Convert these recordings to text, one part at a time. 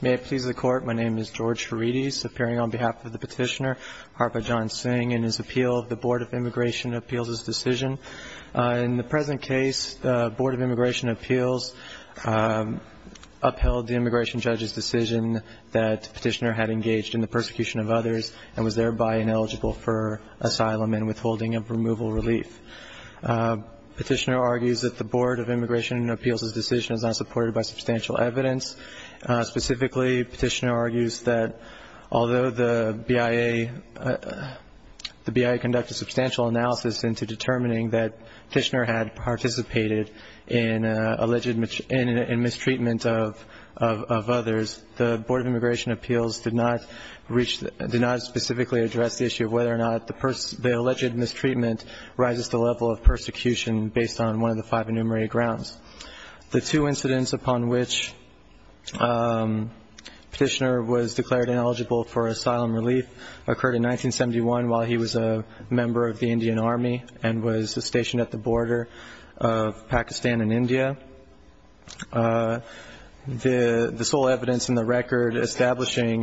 May it please the court, my name is George Ferides appearing on behalf of the petitioner Harbhajan Singh and his appeal of the Board of Immigration Appeals' decision. In the present case, the Board of Immigration Appeals upheld the immigration judge's decision that petitioner had engaged in the persecution of others and was thereby ineligible for asylum and withholding of removal relief. Petitioner argues that the Board of Immigration Appeals' decision is not supported by substantial evidence. Specifically, petitioner argues that although the BIA conducted substantial analysis into determining that petitioner had participated in alleged mistreatment of others, the Board of Immigration Appeals did not specifically address the issue of whether or not the alleged mistreatment rises to the level of persecution based on one of the five enumerated grounds. The two incidents upon which petitioner was declared ineligible for asylum relief occurred in 1971 while he was a member of the Indian Army and was stationed at the border of Pakistan and India. The sole evidence in the record establishing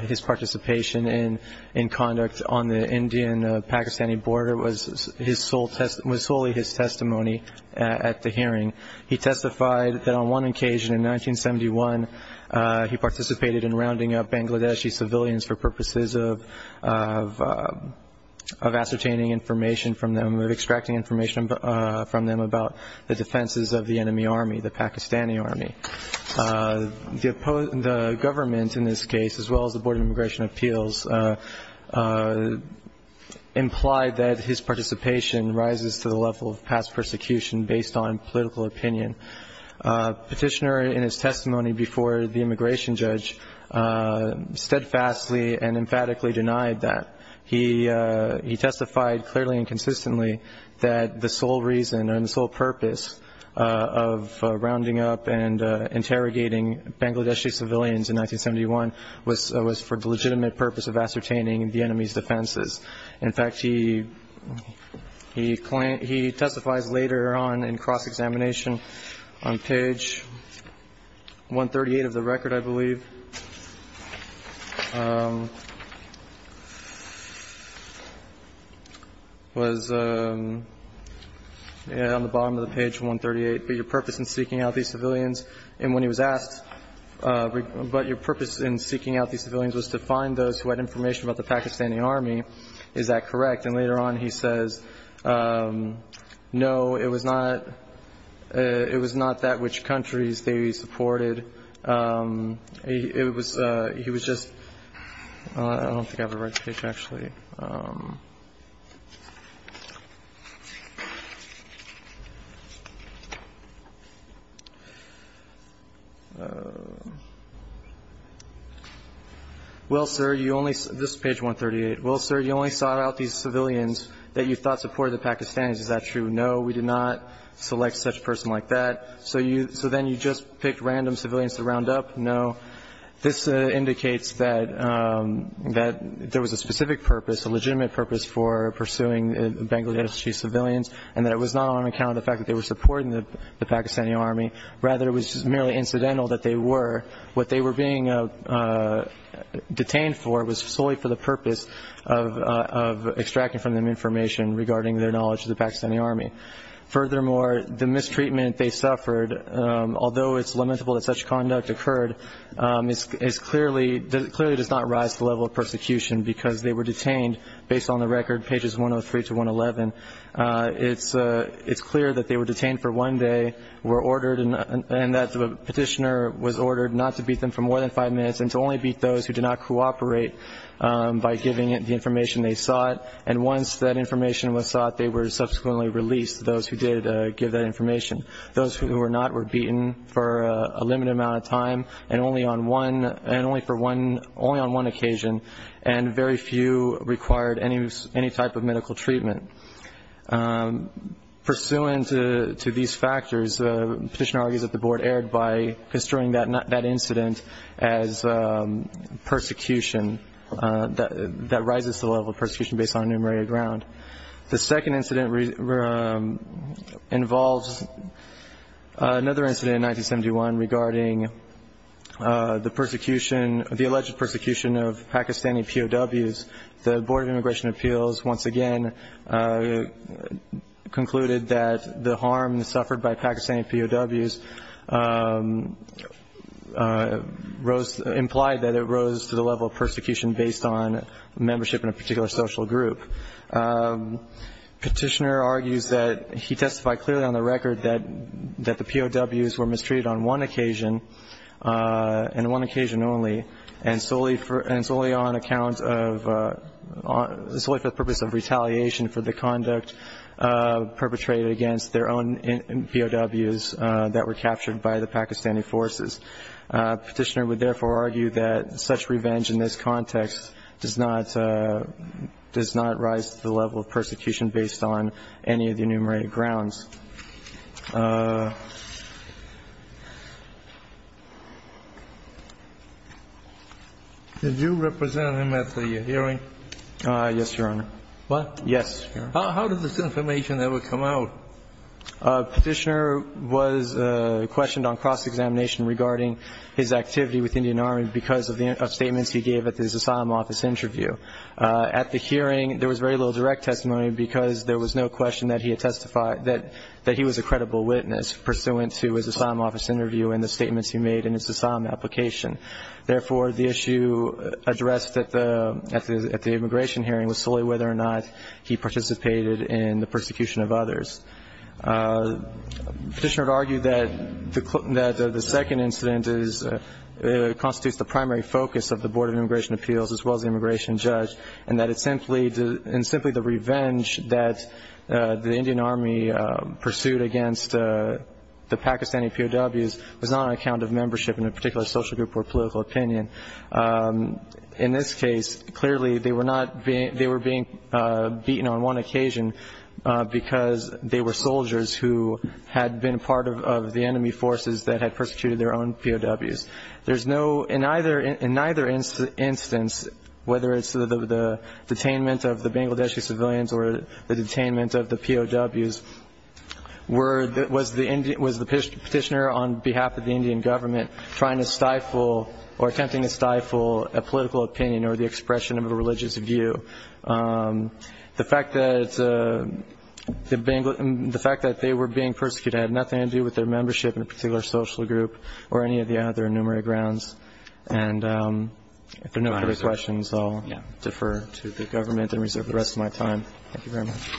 his participation in conduct on the Indian-Pakistani border was solely his testimony at the hearing. He testified that on one occasion in 1971, he participated in rounding up Bangladeshi civilians for purposes of ascertaining information from them, of extracting information from them about the defenses of the enemy army, the Pakistani army. The government in this case, as well as the Board of Immigration Appeals, implied that his participation rises to the level of past persecution based on political opinion. Petitioner, in his testimony before the immigration judge, steadfastly and emphatically denied that. He testified clearly and consistently that the sole reason and the sole purpose of rounding up and interrogating Bangladeshi civilians in 1971 was for the legitimate purpose of ascertaining the enemy's defenses. In fact, he testifies later on in cross-examination on page 138 of the record, I believe, was on the bottom of the page 138, but your purpose in seeking out these civilians and when he was asked, but your purpose in seeking out Bangladeshi civilians was to find those who had information about the Pakistani army. Is that correct? And later on, he says, no, it was not it was not that which countries they supported. It was he was just I don't think I have the right page, actually. Well, sir, you only this page 138. Well, sir, you only sought out these civilians that you thought supported the Pakistanis. Is that true? No, we did not select such a person like that. So you so then you just picked random civilians to round up. No, this indicates that that there was a specific purpose, a legitimate purpose for pursuing Bangladeshi civilians and that it was not on account of the fact that they were supporting the Pakistani army. Rather, it was merely incidental that they were what they were being detained for was solely for the purpose of extracting from them information regarding their knowledge of the Pakistani army. Furthermore, the mistreatment they suffered, although it's limitable that such conduct occurred, is clearly clearly does not rise to the level of persecution because they were detained based on the record pages 103 to 111. It's it's clear that they were detained for one day, were ordered and that the petitioner was ordered not to beat them for more than five minutes and to only beat those who did not cooperate by giving it the information they sought. And once that information was sought, they were subsequently released. Those who did give that information, those who were not, were beaten for a limited amount of time and only on one and only for one only on one occasion. And very few required any any type of medical treatment pursuant to these factors. The petitioner argues that the board erred by construing that incident as persecution that rises to the level of persecution based on enumerated ground. The second incident involves another incident in 1971 regarding the alleged persecution of Pakistani POWs. The Board of Immigration Appeals once again concluded that the harm suffered by Pakistani POWs was not only due to the fact that the incident was perpetrated but also implied that it rose to the level of persecution based on membership in a particular social group. Petitioner argues that he testified clearly on the record that the POWs were mistreated on one occasion and one occasion only and solely for and solely on account of solely for the purpose of retaliation for the conduct perpetrated against their own POWs that were captured by the Pakistani forces. Petitioner would therefore argue that such revenge in this context does not does not rise to the level of persecution based on any of the enumerated grounds. Did you represent him at the hearing? Yes, Your Honor. What? Yes. How did this information ever come out? Petitioner was questioned on cross-examination regarding his activity with Indian Army because of the statements he gave at his asylum office interview. At the hearing, there was very little direct testimony because there was no question that he had testified that he was a credible witness pursuant to his asylum office interview and the statements he made in his asylum application. Therefore, the issue addressed at the immigration hearing was solely whether or not he participated in the persecution of others. Petitioner would argue that the second incident constitutes the primary focus of the Board of Immigration Appeals as well as the immigration judge and that it's simply the revenge that the Indian Army pursued against the Pakistani POWs was not on account of membership in a party. They were being beaten on one occasion because they were soldiers who had been part of the enemy forces that had persecuted their own POWs. In neither instance, whether it's the detainment of the Bangladeshi civilians or the detainment of the POWs, was the petitioner on behalf of the Indian government trying to stifle a political opinion or the expression of a religious view. The fact that they were being persecuted had nothing to do with their membership in a particular social group or any of the other enumerated grounds. And if there are no further questions, I'll defer to the government and reserve the rest of my time. Thank you very much.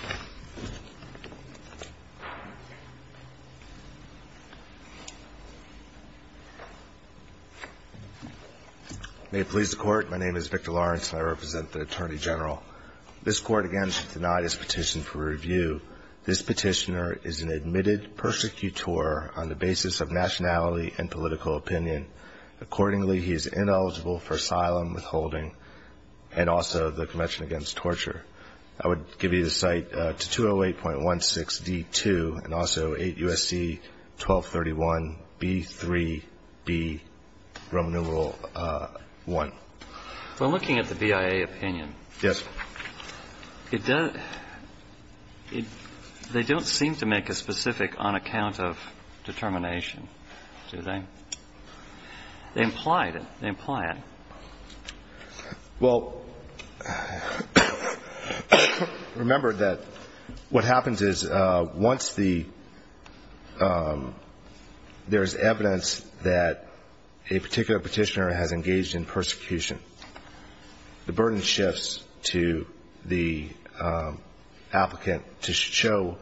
May it please the Court. My name is Victor Lawrence and I represent the Attorney General. This Court, again, should deny this petition for review. This petitioner is an admitted persecutor on the basis of nationality and political opinion. Accordingly, he is ineligible for asylum, withholding, and also the Convention Against Torture. I would give you the cite to 208.16d.2 and also 8 U.S.C. 1231 B.3.B. Roman numeral 1. Well, looking at the BIA opinion, they don't seem to make a specific on account of determination, do they? They implied it. They imply it. Well, remember that what happens is once the ‑‑ there is evidence that a particular petitioner has engaged in persecution, the burden shifts to the applicant to show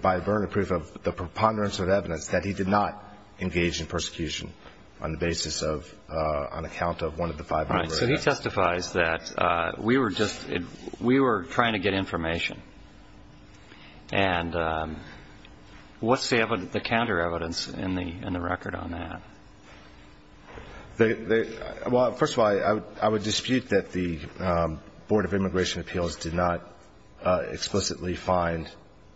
by burning proof of the preponderance of evidence that he did not engage in persecution on the basis of nationality and political opinion. All right. So he testifies that we were just ‑‑ we were trying to get information. And what's the counter evidence in the record on that? Well, first of all, I would dispute that the Board of Immigration Appeals did not explicitly find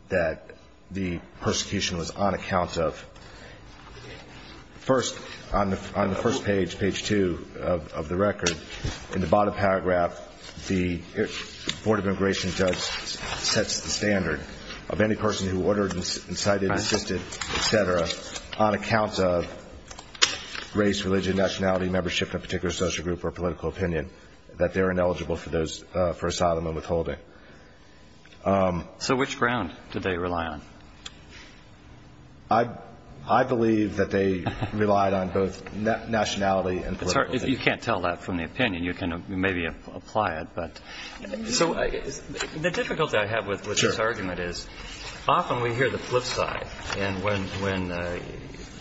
that the persecution was on account of ‑‑ first, on the first page, page two of the record, in the bottom paragraph, the Board of Immigration Judge sets the standard of any person who ordered, incited, assisted, et cetera, on account of race, religion, nationality, membership in a particular social group or political opinion, that they are ineligible for asylum and withholding. So which ground did they rely on? I believe that they relied on both nationality and political opinion. You can't tell that from the opinion. You can maybe apply it. So the difficulty I have with this argument is often we hear the flip side. And when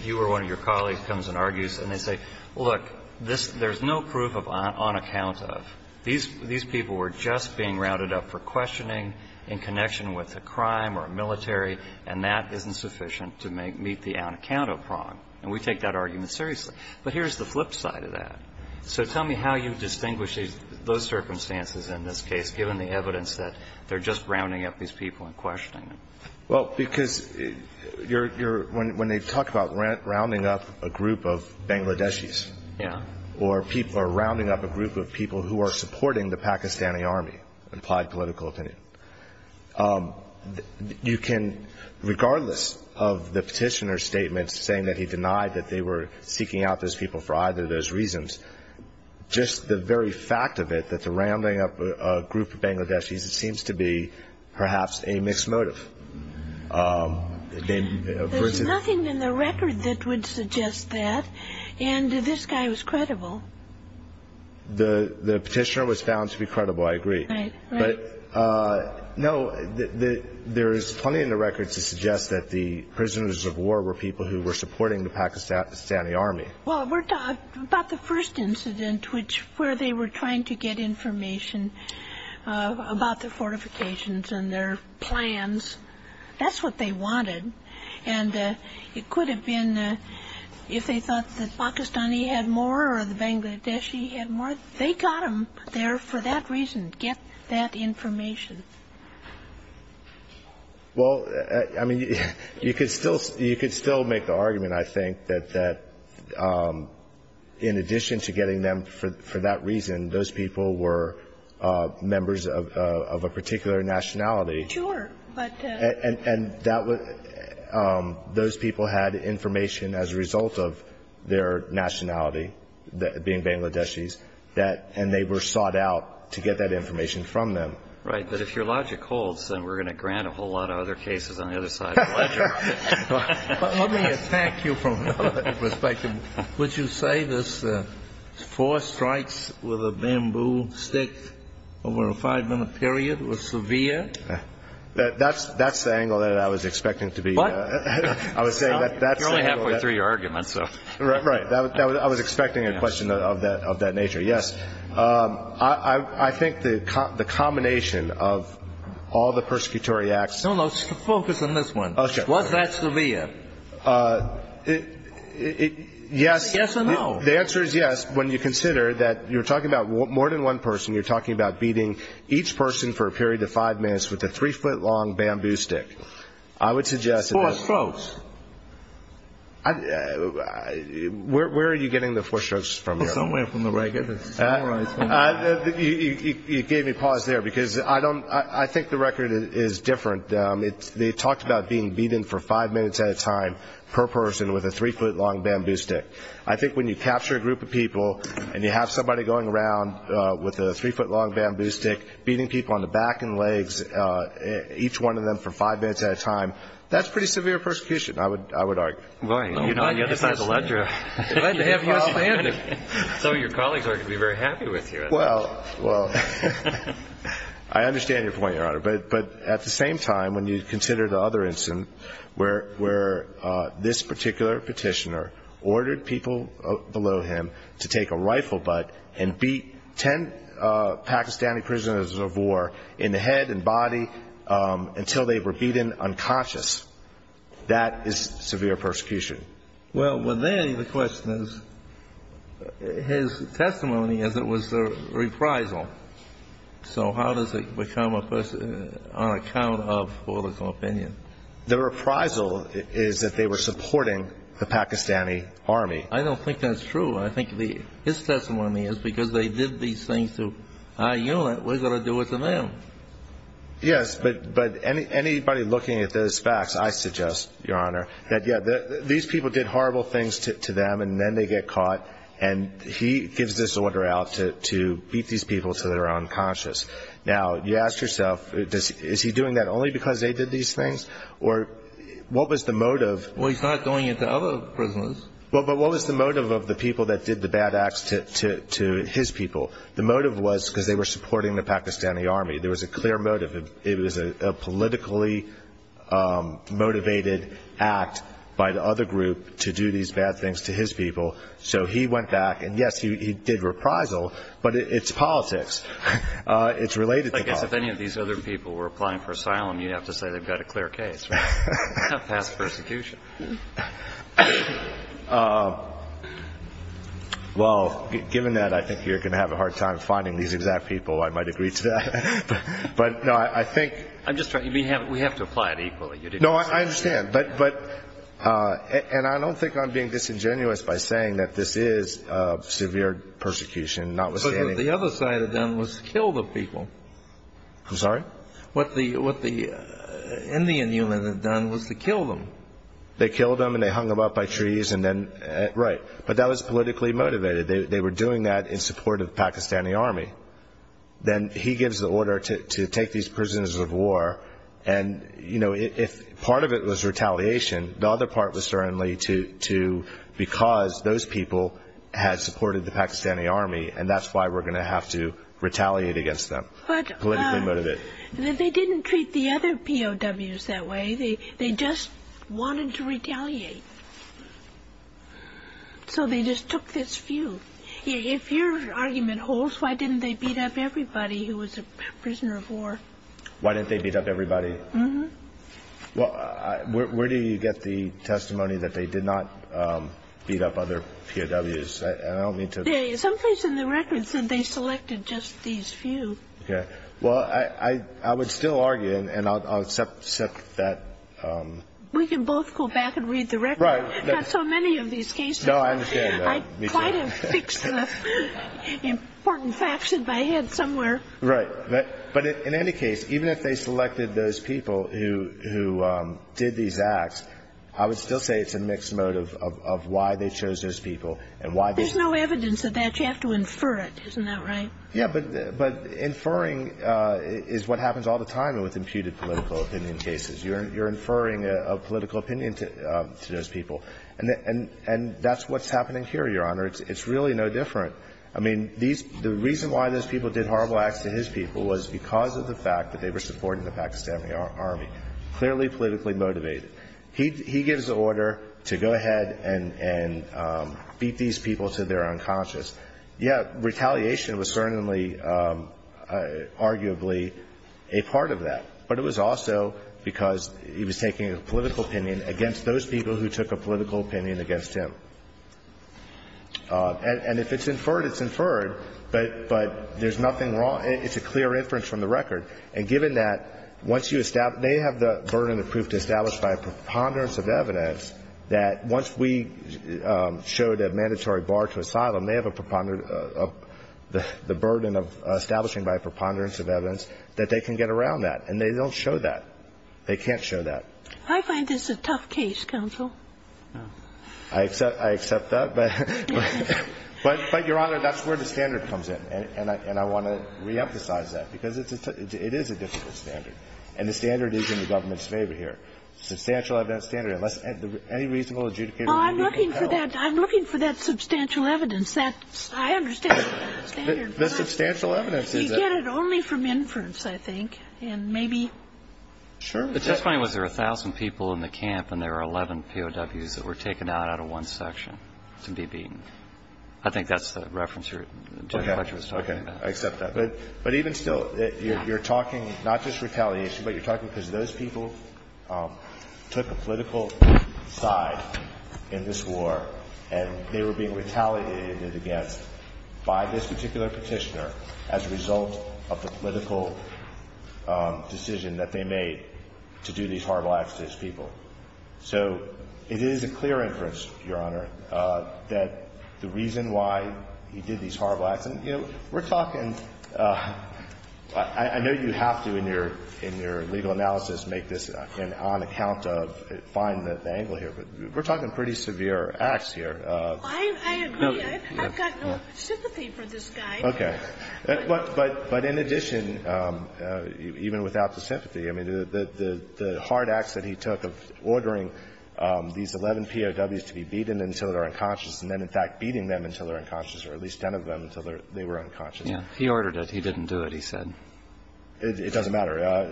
you or one of your colleagues comes and argues and they say, look, there's no proof on account of, these people were just being rounded up for questioning in connection with a crime or a military, and that isn't sufficient to meet the on account of problem. And we take that argument seriously. But here's the flip side of that. So tell me how you distinguish those circumstances in this case, given the evidence that they're just rounding up these people and questioning them. Well, because you're ‑‑ when they talk about rounding up a group of Bangladeshis Yeah. or rounding up a group of people who are supporting the Pakistani army, implied political opinion, you can, regardless of the petitioner's statement saying that he denied that they were seeking out those people for either of those reasons, just the very fact of it, that they're rounding up a group of Bangladeshis, seems to be perhaps a mixed motive. There's nothing in the record that would suggest that. And this guy was credible. The petitioner was found to be credible, I agree. Right, right. But, no, there's plenty in the record to suggest that the prisoners of war were people who were supporting the Pakistani army. Well, we're talking about the first incident where they were trying to get information about the fortifications and their plans. That's what they wanted. And it could have been, if they thought the Pakistani had more or the Bangladeshi had more, they got them there for that reason, get that information. Well, I mean, you could still make the argument, I think, that in addition to getting them for that reason, those people were members of a particular nationality. Sure, but those people had information as a result of their nationality, being Bangladeshis, and they were sought out to get that information from them. Right, but if your logic holds, then we're going to grant a whole lot of other cases on the other side of the ledger. Let me attack you from another perspective. Would you say this four strikes with a bamboo stick over a five-minute period was severe? That's the angle that I was expecting to be. What? You're only halfway through your argument. Right, I was expecting a question of that nature, yes. I think the combination of all the persecutory acts. No, no, focus on this one. Was that severe? Yes. Yes or no? The answer is yes. When you consider that you're talking about more than one person, you're talking about beating each person for a period of five minutes with a three-foot-long bamboo stick. I would suggest that. Four strokes. Where are you getting the four strokes from here? Somewhere from the record. You gave me pause there, because I think the record is different. They talked about being beaten for five minutes at a time per person with a three-foot-long bamboo stick. I think when you capture a group of people and you have somebody going around with a three-foot-long bamboo stick, beating people on the back and legs, each one of them for five minutes at a time, that's pretty severe persecution, I would argue. Why? You're not on the other side of the ledger. Some of your colleagues aren't going to be very happy with you. Well, I understand your point, Your Honor. But at the same time, when you consider the other instance where this particular petitioner ordered people below him to take a rifle butt and beat ten Pakistani prisoners of war in the head and body until they were beaten unconscious, that is severe persecution. Well, then the question is, his testimony as it was a reprisal. So how does it become a person on account of political opinion? The reprisal is that they were supporting the Pakistani army. I don't think that's true. I think his testimony is because they did these things to our unit, we're going to do it to them. Yes, but anybody looking at those facts, I suggest, Your Honor, that, yeah, these people did horrible things to them, and then they get caught, and he gives this order out to beat these people to their unconscious. Now, you ask yourself, is he doing that only because they did these things? Or what was the motive? Well, he's not going into other prisoners. Well, but what was the motive of the people that did the bad acts to his people? The motive was because they were supporting the Pakistani army. There was a clear motive. It was a politically motivated act by the other group to do these bad things to his people. So he went back, and, yes, he did reprisal, but it's politics. It's related to politics. I guess if any of these other people were applying for asylum, you'd have to say they've got a clear case, right? Not past persecution. Well, given that, I think you're going to have a hard time finding these exact people. I might agree to that. But, no, I think we have to apply it equally. No, I understand. And I don't think I'm being disingenuous by saying that this is severe persecution, notwithstanding. But what the other side had done was kill the people. I'm sorry? What the Indian unit had done was to kill them. They killed them, and they hung them up by trees, and then, right. But that was politically motivated. They were doing that in support of the Pakistani army. Then he gives the order to take these prisoners of war, and, you know, part of it was retaliation. The other part was certainly to, because those people had supported the Pakistani army, and that's why we're going to have to retaliate against them politically motivated. But they didn't treat the other POWs that way. They just wanted to retaliate. So they just took this few. If your argument holds, why didn't they beat up everybody who was a prisoner of war? Why didn't they beat up everybody? Mm-hmm. Well, where do you get the testimony that they did not beat up other POWs? Some place in the record said they selected just these few. Well, I would still argue, and I'll accept that. We can both go back and read the record. Right. Not so many of these cases. No, I understand that. I might have fixed important facts in my head somewhere. Right. But in any case, even if they selected those people who did these acts, I would still say it's a mixed motive of why they chose those people and why they ---- There's no evidence of that. You have to infer it. Isn't that right? Yeah. But inferring is what happens all the time with imputed political opinion cases. You're inferring a political opinion to those people. And that's what's happening here, Your Honor. It's really no different. I mean, the reason why those people did horrible acts to his people was because of the fact that they were supporting the Pakistani army, clearly politically motivated. He gives the order to go ahead and beat these people to their unconscious. Yeah, retaliation was certainly arguably a part of that. But it was also because he was taking a political opinion against those people who took a political opinion against him. And if it's inferred, it's inferred. But there's nothing wrong. It's a clear inference from the record. And given that once you establish ---- they have the burden of proof to establish by a preponderance of evidence that once we showed a mandatory bar to asylum, they have a preponderance of the burden of establishing by a preponderance of evidence that they can get around that. And they don't show that. They can't show that. I find this a tough case, counsel. I accept that. But, Your Honor, that's where the standard comes in. And I want to reemphasize that. Because it's a tough ---- it is a difficult standard. And the standard is in the government's favor here. Substantial evidence standard, unless any reasonable adjudicator would be compelled. Well, I'm looking for that. I'm looking for that substantial evidence. That's ---- I understand the standard. The substantial evidence is that ---- You get it only from inference, I think. And maybe ---- Sure. The testimony was there were 1,000 people in the camp and there were 11 POWs that were taken out out of one section to be beaten. I think that's the reference you're ---- Okay. I accept that. But even still, you're talking not just retaliation, but you're talking because those people took a political side in this war and they were being retaliated against by this particular Petitioner as a result of the political decision that they made to do these horrible acts to his people. So it is a clear inference, Your Honor, that the reason why he did these horrible acts ---- You know, we're talking ---- I know you have to in your legal analysis make this on account of ---- find the angle here. But we're talking pretty severe acts here. I agree. I've got no sympathy for this guy. Okay. But in addition, even without the sympathy, I mean, the hard acts that he took of ordering these 11 POWs to be beaten until they're unconscious and then in fact beating them until they're unconscious or at least 10 of them until they were unconscious. Yeah. He ordered it. He didn't do it, he said. It doesn't matter.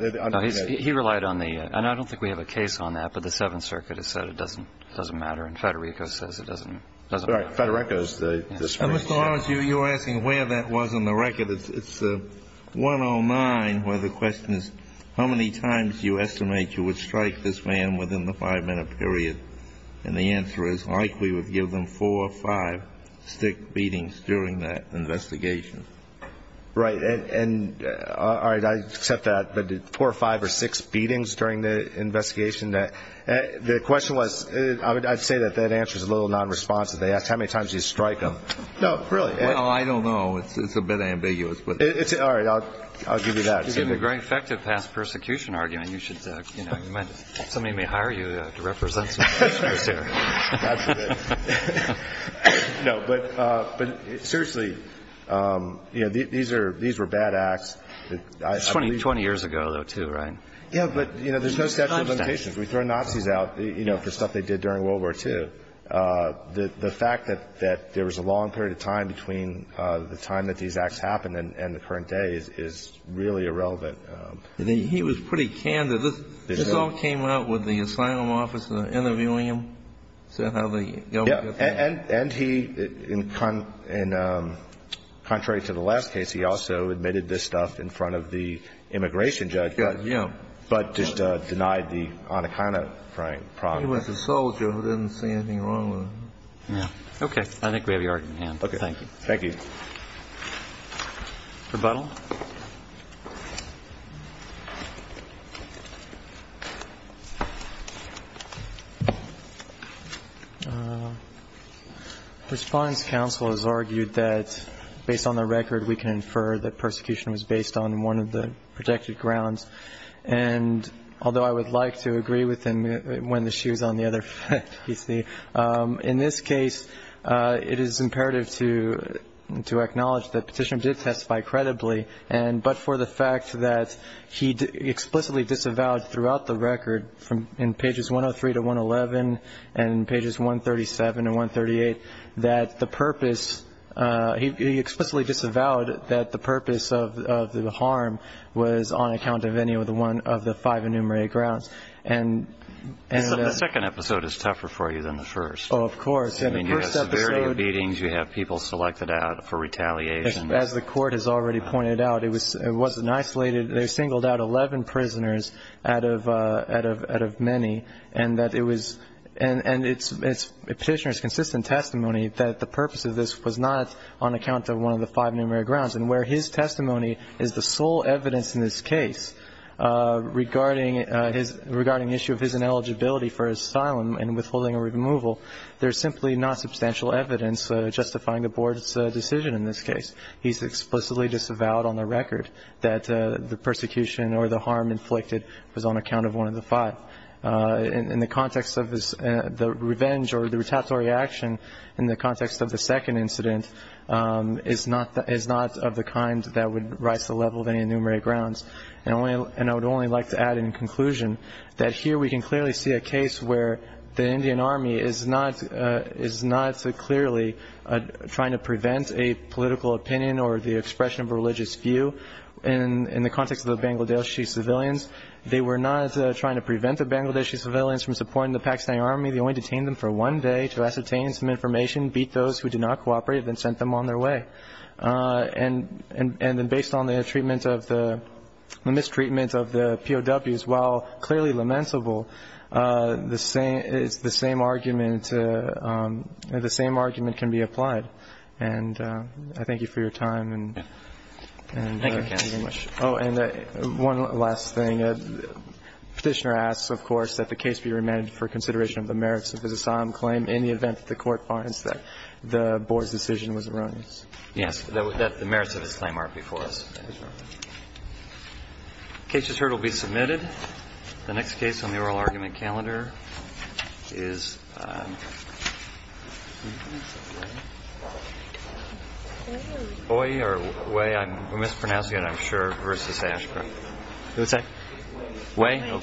He relied on the ---- and I don't think we have a case on that. But the Seventh Circuit has said it doesn't matter. And Federico says it doesn't matter. All right. Federico is the Supreme Court. Mr. Lawrence, you're asking where that was in the record. It's 109 where the question is how many times do you estimate you would strike this man within the five-minute period. And the answer is likely would give them four or five stick beatings during that investigation. Right. And all right. I accept that. But did four or five or six beatings during the investigation? The question was ---- I'd say that that answer is a little nonresponsive. They asked how many times do you strike him. No, really. Well, I don't know. It's a bit ambiguous. All right. I'll give you that. You're giving a very effective past persecution argument. Somebody may hire you to represent some of the prisoners here. No, but seriously, you know, these are ---- these were bad acts. It's 20 years ago, though, too, right? Yeah, but, you know, there's no statute of limitations. We throw Nazis out, you know, for stuff they did during World War II. The fact that there was a long period of time between the time that these acts happened and the current day is really irrelevant. He was pretty candid. This all came out with the asylum officer interviewing him, said how the government ---- Yeah. And he, contrary to the last case, he also admitted this stuff in front of the immigration judge. Yeah. But just denied the Anaconda crime problem. He was a soldier who didn't see anything wrong with it. Yeah. Okay. I think we have your argument in hand. Okay. Thank you. Thank you. Rebuttal. Respondent's counsel has argued that, based on the record, we can infer that persecution was based on one of the projected grounds. And although I would like to agree with him when the shoe's on the other foot, you see, in this case, it is imperative to acknowledge that Petitioner did testify credibly, but for the fact that he explicitly disavowed throughout the record, in Pages 103 to 111 and Pages 137 and 138, that the purpose ---- he explicitly disavowed that the purpose of the harm was on account of any of the five enumerated grounds. The second episode is tougher for you than the first. Oh, of course. In the first episode ---- I mean, you have severity of beatings. You have people selected out for retaliation. As the Court has already pointed out, it wasn't isolated. They singled out 11 prisoners out of many. And that it was ---- and Petitioner's consistent testimony that the purpose of this was not on account of one of the five enumerated grounds. And where his testimony is the sole evidence in this case regarding issue of his ineligibility for asylum and withholding a removal, there's simply not substantial evidence justifying the Board's decision in this case. He's explicitly disavowed on the record that the persecution or the harm inflicted was on account of one of the five. In the context of the revenge or the retaliatory action, in the context of the second incident, is not of the kind that would rise to the level of any enumerated grounds. And I would only like to add in conclusion that here we can clearly see a case where the Indian Army is not clearly trying to prevent a political opinion or the expression of a religious view in the context of the Bangladeshi civilians. They were not trying to prevent the Bangladeshi civilians from supporting the Pakistani Army. They only detained them for one day to ascertain some information, beat those who did not cooperate, and then sent them on their way. And then based on the treatment of the ---- mistreatment of the POWs, while clearly lamentable, the same argument can be applied. And I thank you for your time. Thank you, counsel. Thank you very much. Oh, and one last thing. Petitioner asks, of course, that the case be remanded for consideration of the merits of his asylum claim in the event that the Court finds that the board's decision was erroneous. Yes. That the merits of his claim are before us. The case as heard will be submitted. The next case on the oral argument calendar is Oye or Way. We mispronounced it, I'm sure, versus Ashcroft. What did you say? Way.